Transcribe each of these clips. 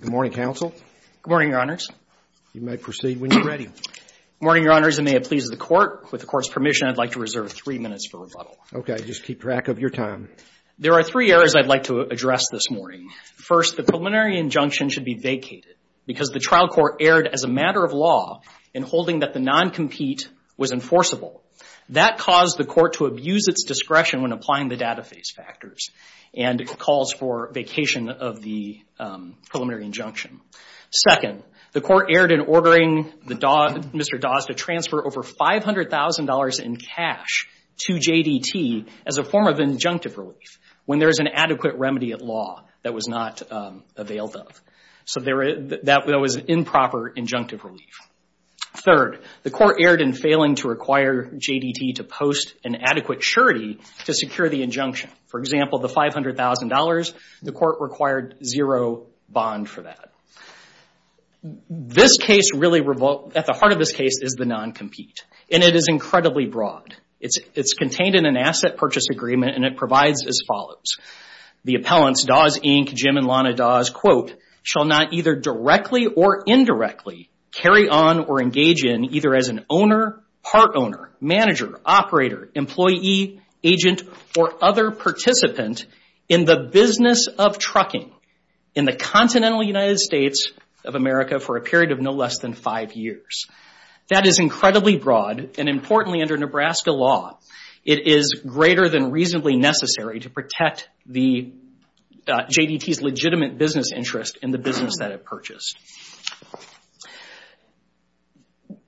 Good morning, counsel. Good morning, Your Honors. You may proceed when you're ready. Good morning, Your Honors, and may it please the Court. With the Court's permission, I'd like to reserve three minutes for rebuttal. Okay. Just keep track of your time. There are three areas I'd like to address this morning. First, the preliminary injunction should be vacated because the trial court erred as a matter of law in holding that the non-compete was enforceable. That caused the court to abuse its discretion when applying the data phase factors and calls for vacation of the preliminary injunction. Second, the court erred in ordering Mr. Dawes to transfer over $500,000 in cash to J.D.T. as a form of injunctive relief when there is an adequate remedy at law that was not available. So that was improper injunctive relief. Third, the court erred in failing to require J.D.T. to post an adequate surety to secure the injunction. For example, the $500,000, the court required zero bond for that. This case really, at the heart of this case, is the non-compete, and it is incredibly broad. It's contained in an asset purchase agreement, and it provides as follows. The appellants, Dawes, Inc., Jim, and Lana Dawes, quote, shall not either directly or indirectly carry on or engage in either as an owner, part owner, manager, operator, employee, agent, or other participant in the business of trucking in the continental United States of America for a period of no less than five years. That is incredibly broad, and importantly, under Nebraska law, it is greater than reasonably necessary to protect J.D.T.'s legitimate business interest and the business that it purchased.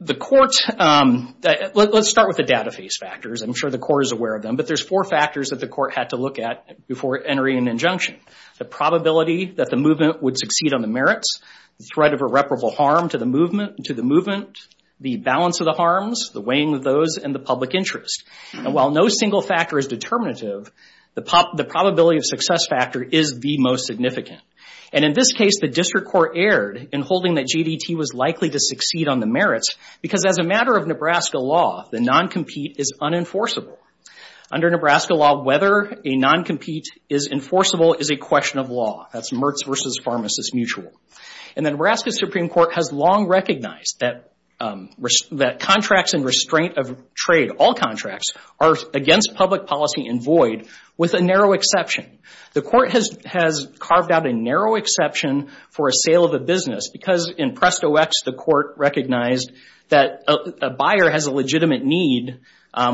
The court, let's start with the data phase factors. I'm sure the court is aware of them, but there's four factors that the court had to look at before entering an injunction. The probability that the movement would succeed on the merits, the threat of irreparable harm to the movement, the balance of the harms, the weighing of those, and the public interest. And while no single factor is determinative, the probability of success factor is the most significant. And in this case, the district court erred in holding that J.D.T. was likely to succeed on the merits because as a matter of Nebraska law, the non-compete is unenforceable. Under Nebraska law, whether a non-compete is enforceable is a question of law. That's Mertz versus pharmacist mutual. And the Nebraska Supreme Court has long recognized that contracts and restraint of trade, all contracts, are against public policy and void with a narrow exception. The court has carved out a narrow exception for a sale of a business because in Presto X, the court recognized that a buyer has a legitimate need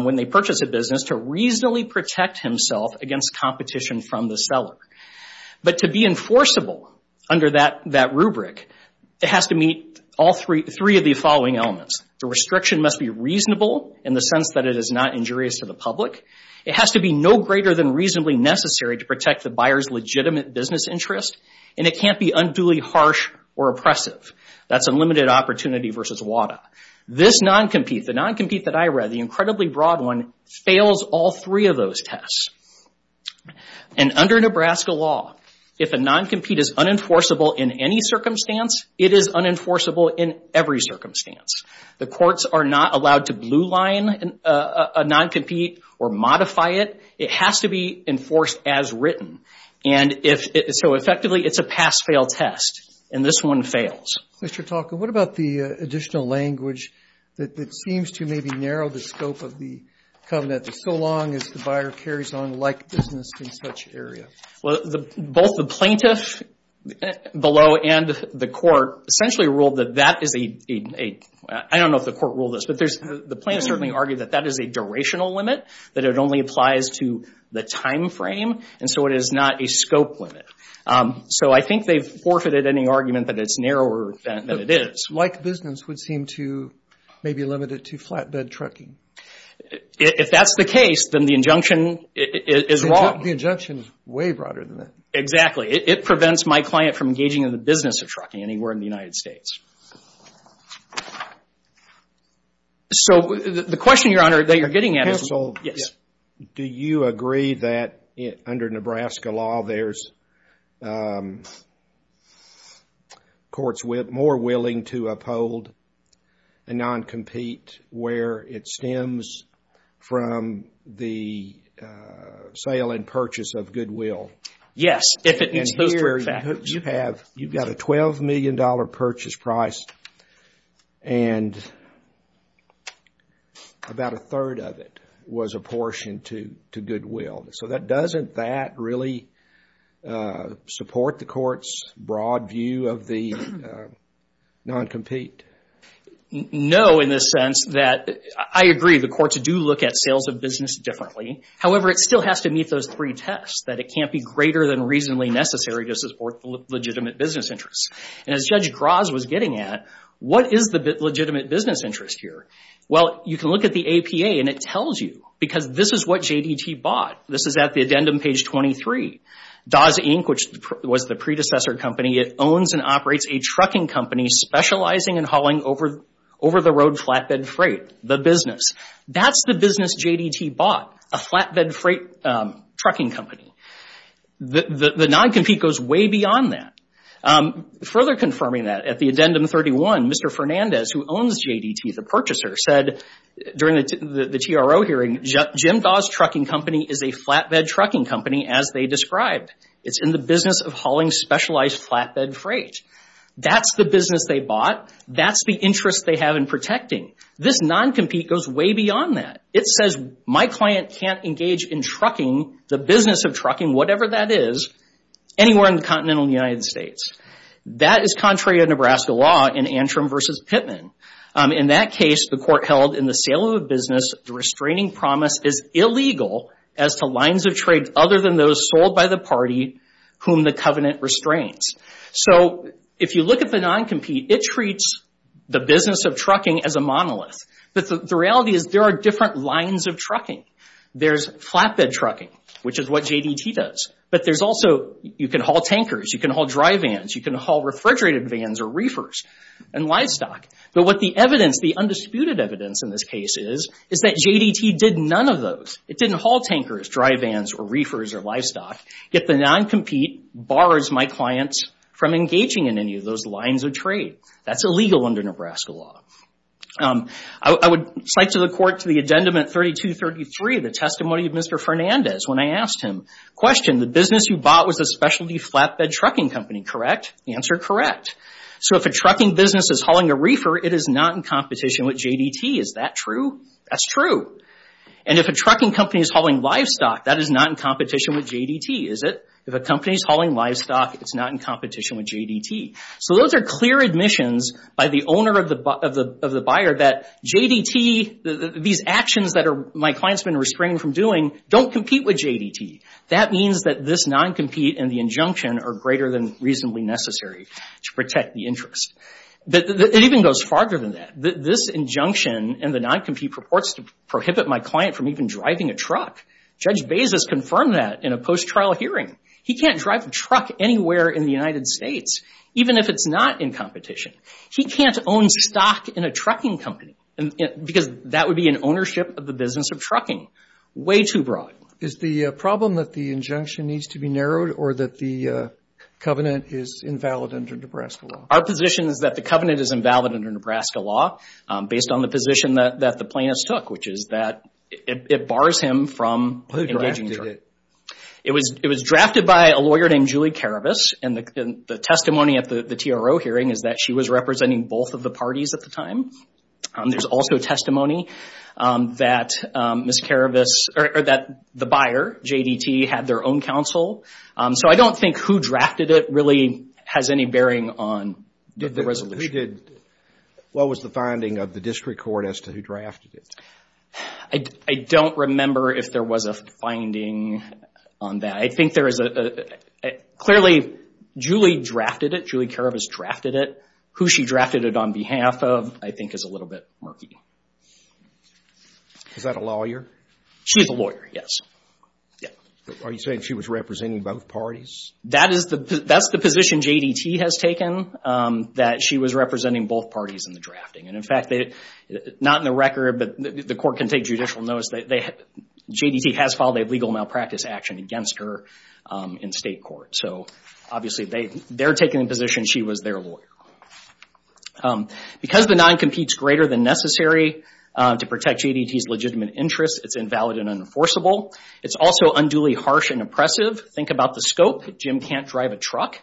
when they purchase a business to reasonably protect himself against competition from the seller. But to be enforceable under that rubric, it has to meet all three of the following elements. The restriction must be reasonable in the sense that it is not injurious to the public. It has to be no greater than reasonably necessary to protect the buyer's legitimate business interest. And it can't be unduly harsh or oppressive. That's unlimited opportunity versus WADA. This non-compete, the non-compete that I read, the incredibly broad one, fails all three of those tests. And under Nebraska law, if a non-compete is unenforceable in any circumstance, it is unenforceable in every circumstance. The courts are not allowed to blue line a non-compete or modify it. It has to be enforced as written. And so effectively, it's a pass-fail test. And this one fails. Mr. Talke, what about the additional language that seems to maybe narrow the scope of the covenant so long as the buyer carries on a like business in such area? Well, both the plaintiff below and the court essentially ruled that that is a... I don't know if the court ruled this, but the plaintiff certainly argued that that is a durational limit, that it only applies to the time frame. And so it is not a scope limit. So I think they've forfeited any argument that it's narrower than it is. Like business would seem to maybe limit it to flatbed trucking. If that's the case, then the injunction is wrong. The injunction is way broader than that. Exactly. It prevents my client from engaging in the business of trucking anywhere in the United States. So the question, Your Honor, that you're getting at is... Yes. Do you agree that under Nebraska law, there's courts more willing to uphold a non-compete where it stems from the sale and purchase of goodwill? Yes. And here you've got a $12 million purchase price and about a third of it was apportioned to goodwill. So doesn't that really support the court's broad view of the non-compete? No, in the sense that... I agree, the courts do look at sales of business differently. However, it still has to meet those three tests, that it can't be greater than reasonably necessary to support legitimate business interests. And as Judge Graz was getting at, what is the legitimate business interest here? Well, you can look at the APA and it tells you. Because this is what JDT bought. This is at the addendum page 23. Dawes, Inc., which was the predecessor company, it owns and operates a trucking company specializing in hauling over-the-road flatbed freight. The business. That's the business JDT bought, a flatbed freight trucking company. The non-compete goes way beyond that. Further confirming that, at the addendum 31, Mr. Fernandez, who owns JDT, the purchaser, said during the TRO hearing, Jim Dawes Trucking Company is a flatbed trucking company as they described. It's in the business of hauling specialized flatbed freight. That's the business they bought. That's the interest they have in protecting. This non-compete goes way beyond that. It says my client can't engage in trucking, the business of trucking, whatever that is, anywhere in the continental United States. That is contrary to Nebraska law in Antrim v. Pittman. In that case, the court held in the sale of a business, the restraining promise is illegal as to lines of trade other than those sold by the party whom the covenant restrains. If you look at the non-compete, it treats the business of trucking as a monolith. The reality is there are different lines of trucking. There's flatbed trucking, which is what JDT does. You can haul tankers. You can haul dry vans. You can haul refrigerated vans or reefers and livestock. But what the evidence, the undisputed evidence in this case is, is that JDT did none of those. It didn't haul tankers, dry vans, or reefers, or livestock. Yet the non-compete bars my clients from engaging in any of those lines of trade. That's illegal under Nebraska law. I would cite to the court to the addendum at 3233, the testimony of Mr. Fernandez, when I asked him, question, the business you bought was a specialty flatbed trucking company, correct? The answer, correct. So if a trucking business is hauling a reefer, it is not in competition with JDT. Is that true? That's true. And if a trucking company is hauling livestock, that is not in competition with JDT, is it? If a company is hauling livestock, it's not in competition with JDT. So those are clear admissions by the owner of the buyer that JDT, these actions that my client's been restraining from doing, don't compete with JDT. That means that this non-compete and the injunction are greater than reasonably necessary. To protect the interest. It even goes farther than that. This injunction and the non-compete purports to prohibit my client from even driving a truck. Judge Bezos confirmed that in a post-trial hearing. He can't drive a truck anywhere in the United States, even if it's not in competition. He can't own stock in a trucking company, because that would be in ownership of the business of trucking. Way too broad. Is the problem that the injunction needs to be narrowed, or that the covenant is invalid under Nebraska law? Our position is that the covenant is invalid under Nebraska law, based on the position that the plaintiffs took, which is that it bars him from engaging the truck. Who drafted it? It was drafted by a lawyer named Julie Karabas, and the testimony at the TRO hearing is that she was representing both of the parties at the time. There's also testimony that the buyer, JDT, had their own counsel. I don't think who drafted it really has any bearing on the resolution. What was the finding of the district court as to who drafted it? I don't remember if there was a finding on that. I think there is a... Clearly, Julie drafted it. Julie Karabas drafted it. Who she drafted it on behalf of, I think, is a little bit murky. Is that a lawyer? She's a lawyer, yes. Are you saying she was representing both parties? That's the position JDT has taken, that she was representing both parties in the drafting. In fact, not in the record, but the court can take judicial notice, JDT has filed a legal malpractice action against her in state court. Obviously, they're taking the position she was their lawyer. Because the non-competes greater than necessary to protect JDT's legitimate interests, it's invalid and unenforceable. It's also unduly harsh and oppressive. Think about the scope. Jim can't drive a truck.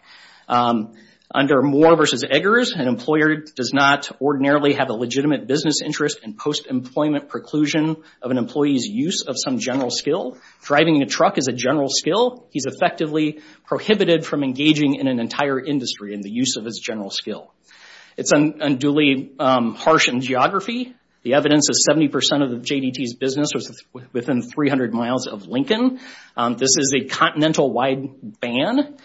Under Moore v. Eggers, an employer does not ordinarily have a legitimate business interest in post-employment preclusion of an employee's use of some general skill. Driving a truck is a general skill. He's effectively prohibited from engaging in an entire industry in the use of his general skill. It's unduly harsh in geography. The evidence is 70% of JDT's business was within 300 miles of Lincoln. This is a continental-wide ban,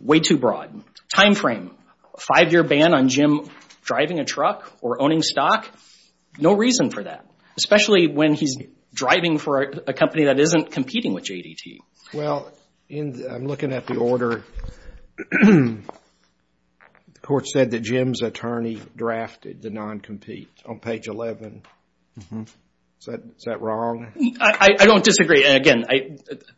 way too broad. Time frame, a five-year ban on Jim driving a truck or owning stock, no reason for that, especially when he's driving for a company that isn't competing with JDT. Well, I'm looking at the order. The court said that Jim's attorney drafted the non-compete on page 11. Is that wrong? I don't disagree. Again,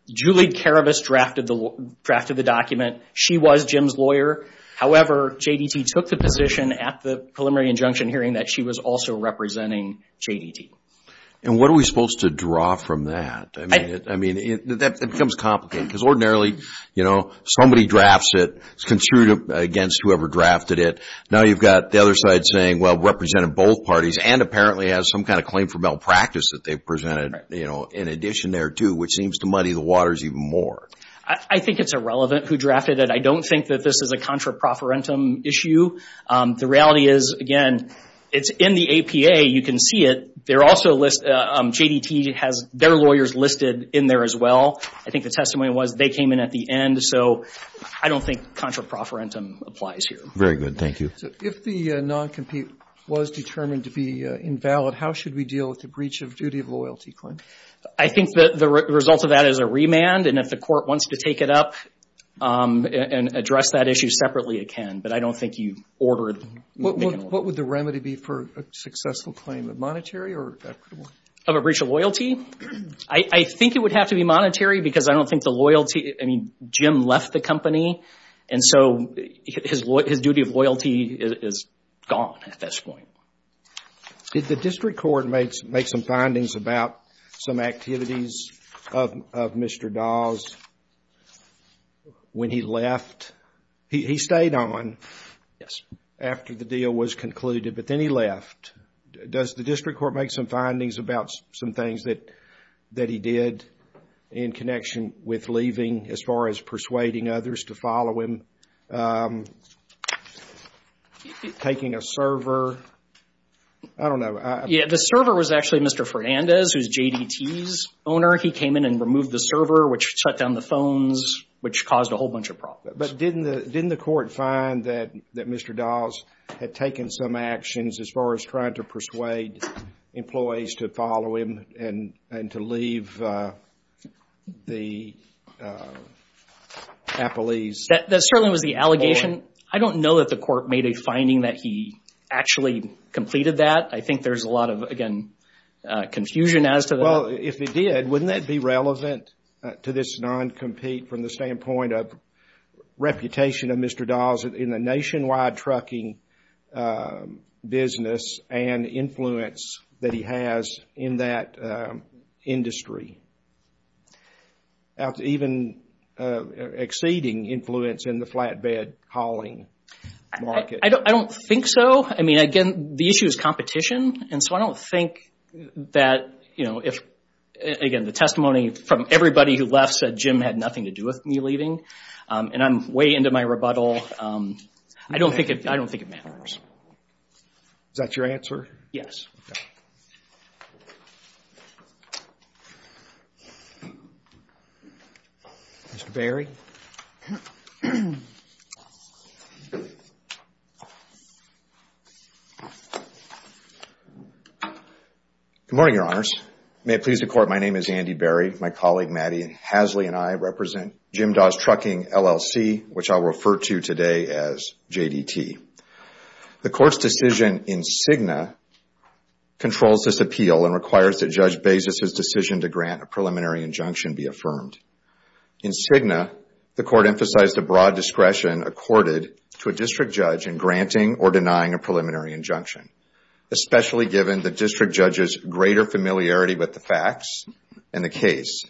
Julie Karabas drafted the document. She was Jim's lawyer. However, JDT took the position at the preliminary injunction hearing that she was also representing JDT. And what are we supposed to draw from that? I mean, that becomes complicated because ordinarily, you know, somebody drafts it, it's construed against whoever drafted it. Now you've got the other side saying, well, represented both parties and apparently has some kind of claim for malpractice that they've presented, you know, in addition there too, which seems to muddy the waters even more. I think it's irrelevant who drafted it. I don't think that this is a contra profferentum issue. The reality is, again, it's in the APA. You can see it. They're also listed. JDT has their lawyers listed in there as well. I think the testimony was they came in at the end. So I don't think contra profferentum applies here. Very good. Thank you. If the non-compete was determined to be invalid, how should we deal with the breach of duty of loyalty claim? I think the result of that is a remand. And if the court wants to take it up and address that issue separately, it can. But I don't think you order it. What would the remedy be for a successful claim? Monetary or equitable? Of a breach of loyalty? I think it would have to be monetary because I don't think the loyalty, I mean, Jim left the company. And so his duty of loyalty is gone at this point. Did the district court make some findings about some activities of Mr. Dawes when he left? He stayed on after the deal was concluded, but then he left. Does the district court make some findings about some things that he did in connection with leaving as far as persuading others to follow him? Taking a server? I don't know. Yeah, the server was actually Mr. Fernandez, who is JDT's owner. He came in and removed the server, which shut down the phones, which caused a whole bunch of problems. But didn't the court find that Mr. Dawes had taken some actions as far as trying to persuade employees to follow him and to leave the Apple East? That certainly was the allegation. I don't know that the court made a finding that he actually completed that. I think there's a lot of, again, confusion as to that. Well, if he did, wouldn't that be relevant to this non-compete from the standpoint of reputation of Mr. Dawes in the nationwide trucking business and influence that he has in that industry? Even exceeding influence in the flatbed hauling market. I don't think so. I mean, again, the issue is competition. And so I don't think that, you know, again, the testimony from everybody who left said Jim had nothing to do with me leaving. And I'm way into my rebuttal. I don't think it matters. Is that your answer? Yes. Okay. Mr. Berry. Good morning, Your Honors. May it please the Court, my name is Andy Berry. My colleague, Maddie Hasley, and I represent Jim Dawes Trucking, LLC, which I'll refer to today as JDT. The Court's decision in Cigna controls this appeal and requires that Judge Bezos's decision to grant a preliminary injunction be affirmed. In Cigna, the Court emphasized the broad discretion accorded to a district judge in granting or denying a preliminary injunction, especially given the district judge's greater familiarity with the facts and the case.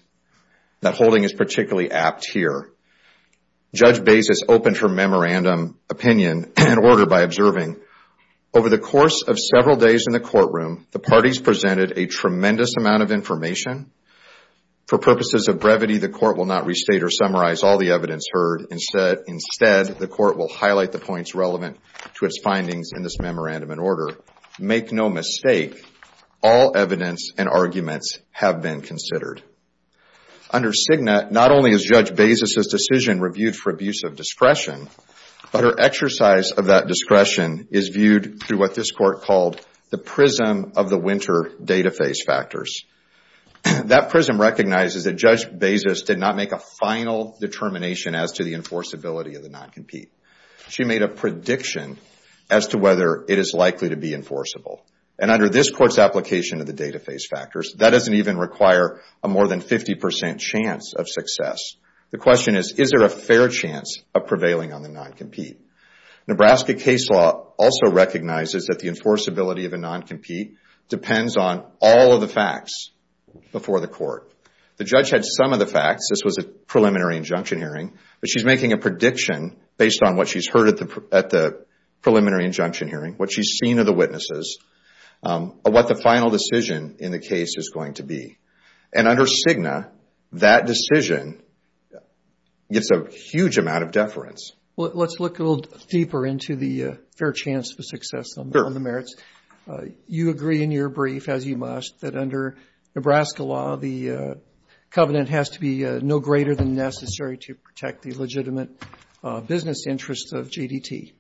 That holding is particularly apt here. Judge Bezos opened her memorandum opinion and order by observing, over the course of several days in the courtroom, the parties presented a tremendous amount of information. For purposes of brevity, the Court will not restate or summarize all the evidence heard. Instead, the Court will highlight the points relevant to its findings in this memorandum and order. Make no mistake, all evidence and arguments have been considered. Under Cigna, not only is Judge Bezos's decision reviewed for abuse of discretion, but her exercise of that discretion is viewed through what this Court called the prism of the winter data phase factors. That prism recognizes that Judge Bezos did not make a final determination as to the enforceability of the non-compete. She made a prediction as to whether it is likely to be enforceable. Under this Court's application of the data phase factors, that doesn't even require a more than 50% chance of success. The question is, is there a fair chance of prevailing on the non-compete? Nebraska case law also recognizes that the enforceability of a non-compete depends on all of the facts before the Court. The judge had some of the facts. This was a preliminary injunction hearing. But she's making a prediction based on what she's heard at the preliminary injunction hearing, what she's seen of the witnesses, of what the final decision in the case is going to be. And under Cigna, that decision gets a huge amount of deference. Let's look a little deeper into the fair chance of success on the merits. You agree in your brief, as you must, that under Nebraska law, the covenant has to be no greater than necessary to protect the legitimate business interests of GDT.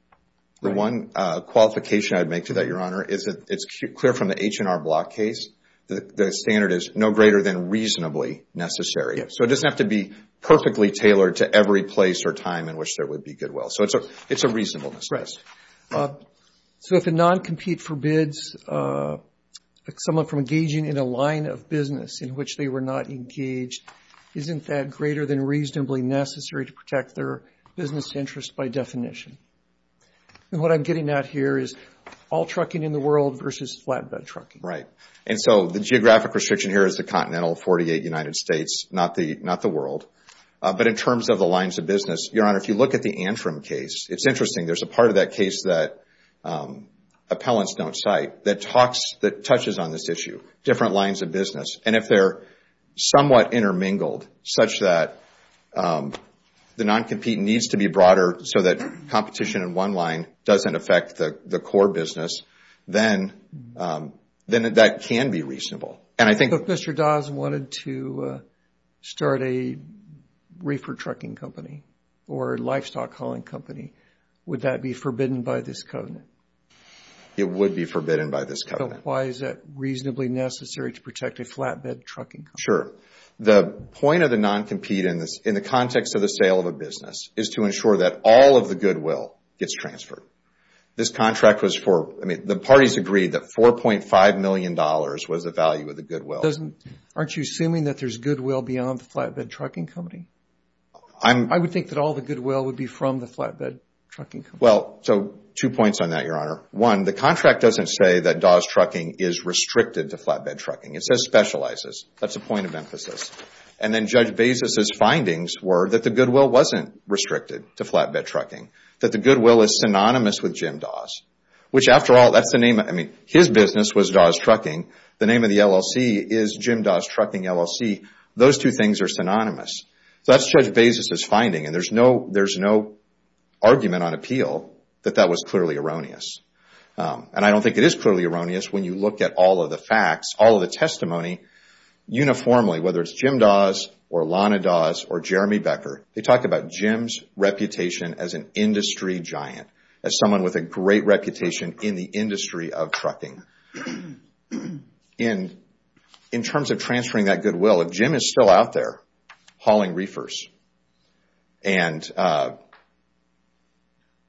The one qualification I would make to that, Your Honor, is that it's clear from the H&R Block case, the standard is no greater than reasonably necessary. So it doesn't have to be perfectly tailored to every place or time in which there would be goodwill. So it's a reasonableness. So if a non-compete forbids someone from engaging in a line of business in which they were not engaged, isn't that greater than reasonably necessary to protect their business interests by definition? And what I'm getting at here is all trucking in the world versus flatbed trucking. Right. And so the geographic restriction here is the continental 48 United States, not the world. But in terms of the lines of business, Your Honor, if you look at the Antrim case, it's interesting. There's a part of that case that appellants don't cite that touches on this issue, different lines of business. And if they're somewhat intermingled such that the non-compete needs to be broader so that competition in one line doesn't affect the core business, then that can be reasonable. If Mr. Dawes wanted to start a reefer trucking company or a livestock hauling company, would that be forbidden by this covenant? It would be forbidden by this covenant. So why is it reasonably necessary to protect a flatbed trucking company? Sure. The point of the non-compete in the context of the sale of a business is to ensure that all of the goodwill gets transferred. This contract was for, I mean, the parties agreed that $4.5 million was the value of the goodwill. Aren't you assuming that there's goodwill beyond the flatbed trucking company? I would think that all the goodwill would be from the flatbed trucking company. Well, so two points on that, Your Honor. One, the contract doesn't say that Dawes Trucking is restricted to flatbed trucking. It says specializes. That's a point of emphasis. And then Judge Bezos' findings were that the goodwill wasn't restricted to flatbed trucking, that the goodwill is synonymous with Jim Dawes, which after all, that's the name. I mean, his business was Dawes Trucking. The name of the LLC is Jim Dawes Trucking LLC. Those two things are synonymous. So that's Judge Bezos' finding, and there's no argument on appeal that that was clearly erroneous. And I don't think it is clearly erroneous when you look at all of the facts, all of the testimony uniformly, whether it's Jim Dawes or Lana Dawes or Jeremy Becker. They talk about Jim's reputation as an industry giant, as someone with a great reputation in the industry of trucking. In terms of transferring that goodwill, if Jim is still out there hauling reefers, and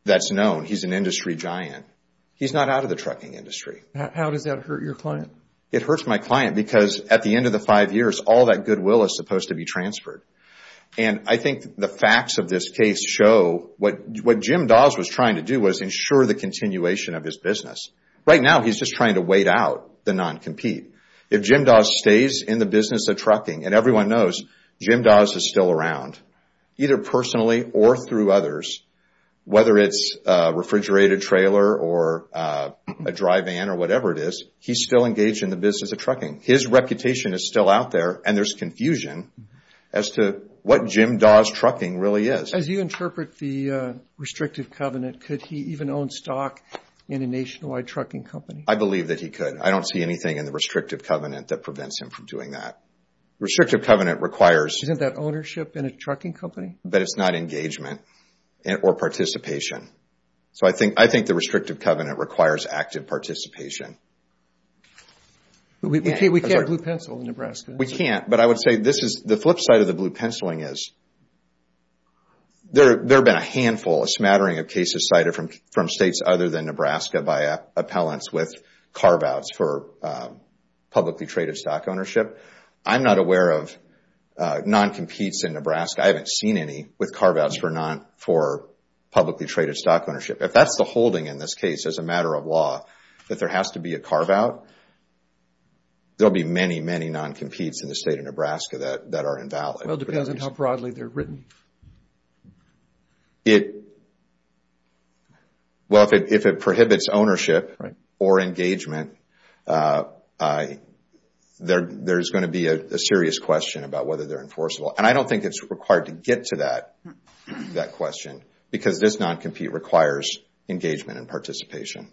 that's known, he's an industry giant, he's not out of the trucking industry. How does that hurt your client? It hurts my client because at the end of the five years, all that goodwill is supposed to be transferred. And I think the facts of this case show what Jim Dawes was trying to do was ensure the continuation of his business. Right now, he's just trying to wait out the non-compete. If Jim Dawes stays in the business of trucking, and everyone knows Jim Dawes is still around, either personally or through others, whether it's a refrigerated trailer or a dry van or whatever it is, he's still engaged in the business of trucking. His reputation is still out there, and there's confusion as to what Jim Dawes trucking really is. As you interpret the restrictive covenant, could he even own stock in a nationwide trucking company? I believe that he could. I don't see anything in the restrictive covenant that prevents him from doing that. Restrictive covenant requires… Isn't that ownership in a trucking company? But it's not engagement or participation. So I think the restrictive covenant requires active participation. We can't blue pencil in Nebraska. We can't, but I would say the flip side of the blue penciling is there have been a handful, a smattering of cases cited from states other than Nebraska by appellants with carve-outs for publicly traded stock ownership. I'm not aware of non-competes in Nebraska. I haven't seen any with carve-outs for publicly traded stock ownership. If that's the holding in this case as a matter of law, that there has to be a carve-out, there will be many, many non-competes in the state of Nebraska that are invalid. Well, it depends on how broadly they're written. Well, if it prohibits ownership or engagement, there's going to be a serious question about whether they're enforceable. And I don't think it's required to get to that question because this non-compete requires engagement and participation.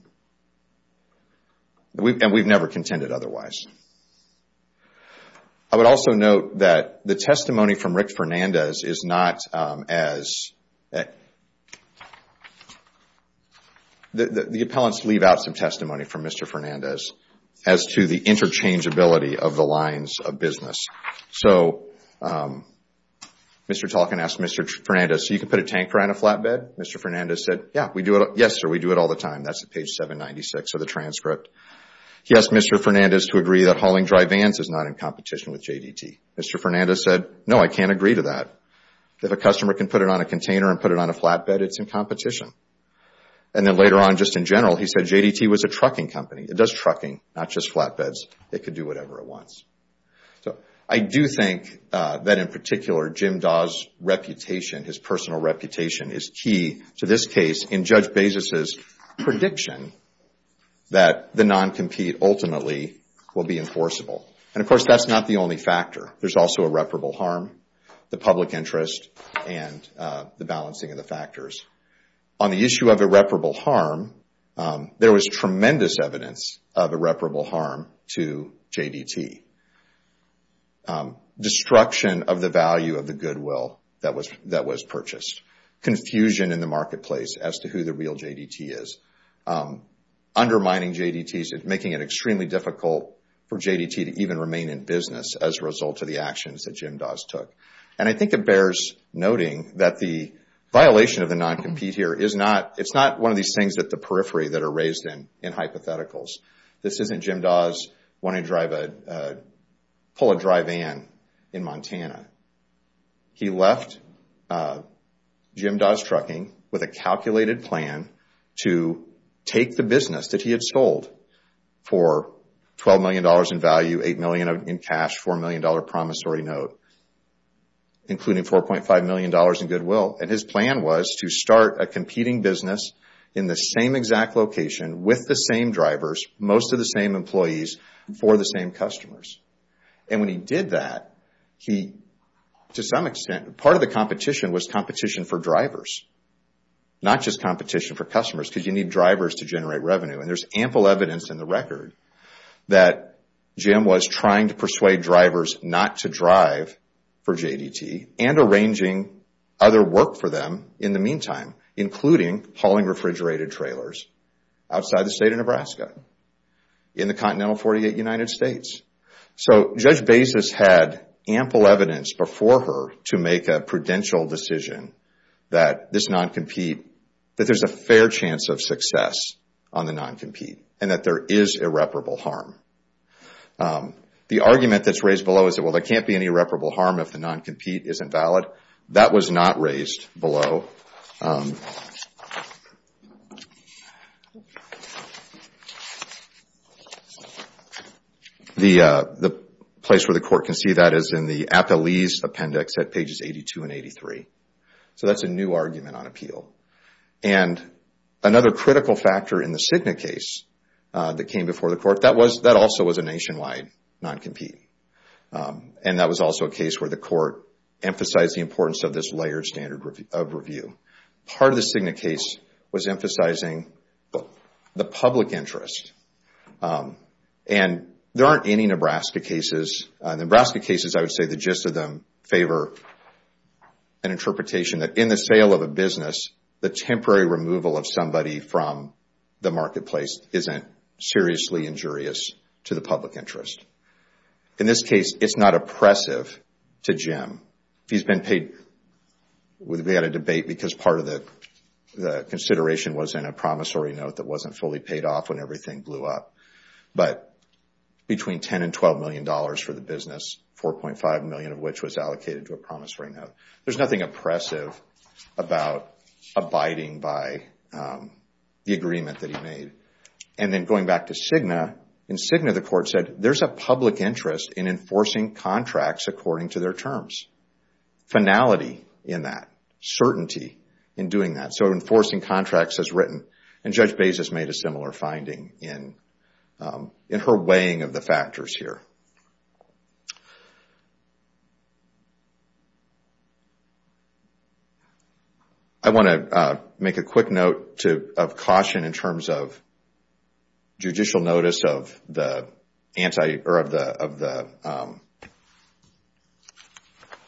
And we've never contended otherwise. I would also note that the testimony from Rick Fernandez is not as – the appellants leave out some testimony from Mr. Fernandez as to the interchangeability of the lines of business. So Mr. Talkin asked Mr. Fernandez, so you can put a tanker on a flatbed? Mr. Fernandez said, yes, sir, we do it all the time. That's at page 796 of the transcript. He asked Mr. Fernandez to agree that hauling dry vans is not in competition with JDT. Mr. Fernandez said, no, I can't agree to that. If a customer can put it on a container and put it on a flatbed, it's in competition. And then later on, just in general, he said JDT was a trucking company. It does trucking, not just flatbeds. It could do whatever it wants. So I do think that in particular, Jim Dawes' reputation, his personal reputation is key to this case in Judge Bezos' prediction that the non-compete ultimately will be enforceable. And of course, that's not the only factor. There's also irreparable harm, the public interest, and the balancing of the factors. On the issue of irreparable harm, there was tremendous evidence of irreparable harm to JDT. Destruction of the value of the goodwill that was purchased. Confusion in the marketplace as to who the real JDT is. Undermining JDT, making it extremely difficult for JDT to even remain in business as a result of the actions that Jim Dawes took. And I think it bears noting that the violation of the non-compete here, it's not one of these things at the periphery that are raised in hypotheticals. This isn't Jim Dawes wanting to pull a dry van in Montana. He left Jim Dawes Trucking with a calculated plan to take the business that he had sold for $12 million in value, $8 million in cash, $4 million promissory note, including $4.5 million in goodwill. And his plan was to start a competing business in the same exact location with the same drivers, most of the same employees, for the same customers. And when he did that, to some extent, part of the competition was competition for drivers, not just competition for customers, because you need drivers to generate revenue. And there's ample evidence in the record that Jim was trying to persuade drivers not to drive for JDT and arranging other work for them in the meantime, including hauling refrigerated trailers outside the state of Nebraska, in the continental 48 United States. So Judge Bezos had ample evidence before her to make a prudential decision that this non-compete, that there's a fair chance of success on the non-compete, and that there is irreparable harm. The argument that's raised below is that, well, there can't be any irreparable harm if the non-compete isn't valid. That was not raised below. The place where the court can see that is in the Appellee's Appendix at pages 82 and 83. So that's a new argument on appeal. And another critical factor in the Cigna case that came before the court, that also was a nationwide non-compete. And that was also a case where the court emphasized the importance of this layered standard of review. Part of the Cigna case was emphasizing the public interest and there aren't any Nebraska cases. The Nebraska cases, I would say the gist of them favor an interpretation that in the sale of a business, the temporary removal of somebody from the marketplace isn't seriously injurious to the public interest. In this case, it's not oppressive to Jim. He's been paid, we had a debate because part of the consideration was in a promissory note that wasn't fully paid off when everything blew up. But between $10 and $12 million for the business, $4.5 million of which was allocated to a promissory note. There's nothing oppressive about abiding by the agreement that he made. And then going back to Cigna, in Cigna the court said, there's a public interest in enforcing contracts according to their terms. Finality in that. Certainty in doing that. So enforcing contracts as written. And Judge Bezos made a similar finding in her weighing of the factors here. I want to make a quick note of caution in terms of judicial notice of the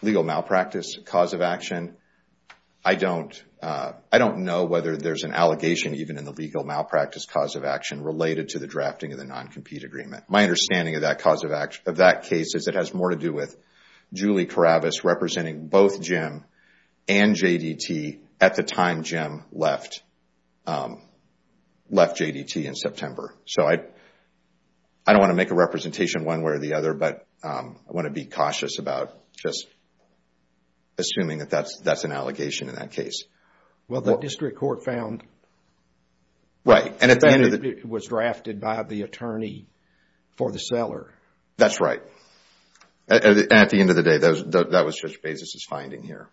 legal malpractice cause of action. I don't know whether there's an allegation even in the legal malpractice cause of action related to the drafting of the non-compete agreement. My understanding of that case is it has more to do with Julie Karabas representing both Jim and J.D.T. at the time Jim left J.D.T. in September. So I don't want to make a representation one way or the other, but I want to be cautious about just assuming that that's an allegation in that case. Well, the district court found that it was drafted by the attorney for the seller. That's right. At the end of the day, that was Judge Bezos' finding here.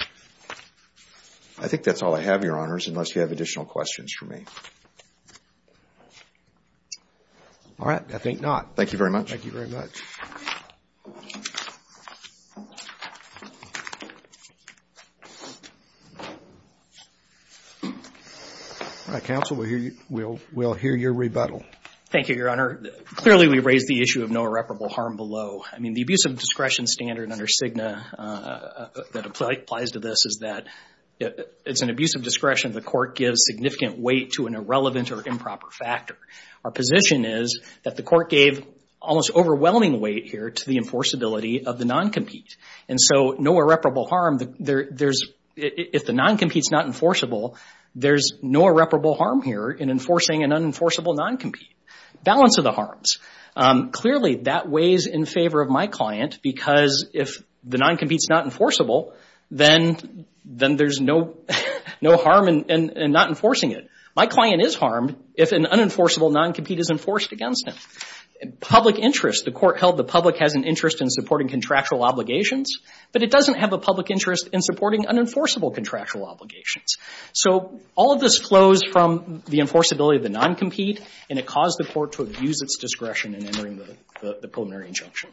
All right. I think that's all I have, Your Honors, unless you have additional questions for me. All right. I think not. Thank you very much. Thank you very much. All right. Counsel, we'll hear your rebuttal. Thank you, Your Honor. Clearly, we raised the issue of no irreparable harm below. I mean, the abuse of discretion standard under CIGNA that applies to this is that it's an abuse of discretion if the court gives significant weight to an irrelevant or improper factor. Our position is that the court gave almost overwhelming weight here to the enforceability of the non-compete, and so no irreparable harm. If the non-compete's not enforceable, there's no irreparable harm here in enforcing an unenforceable non-compete. Balance of the harms. Clearly, that weighs in favor of my client because if the non-compete's not enforceable, then there's no harm in not enforcing it. My client is harmed if an unenforceable non-compete is enforced against him. Public interest. The court held the public has an interest in supporting contractual obligations, but it doesn't have a public interest in supporting unenforceable contractual obligations. So all of this flows from the enforceability of the non-compete, and it caused the court to abuse its discretion in entering the preliminary injunction.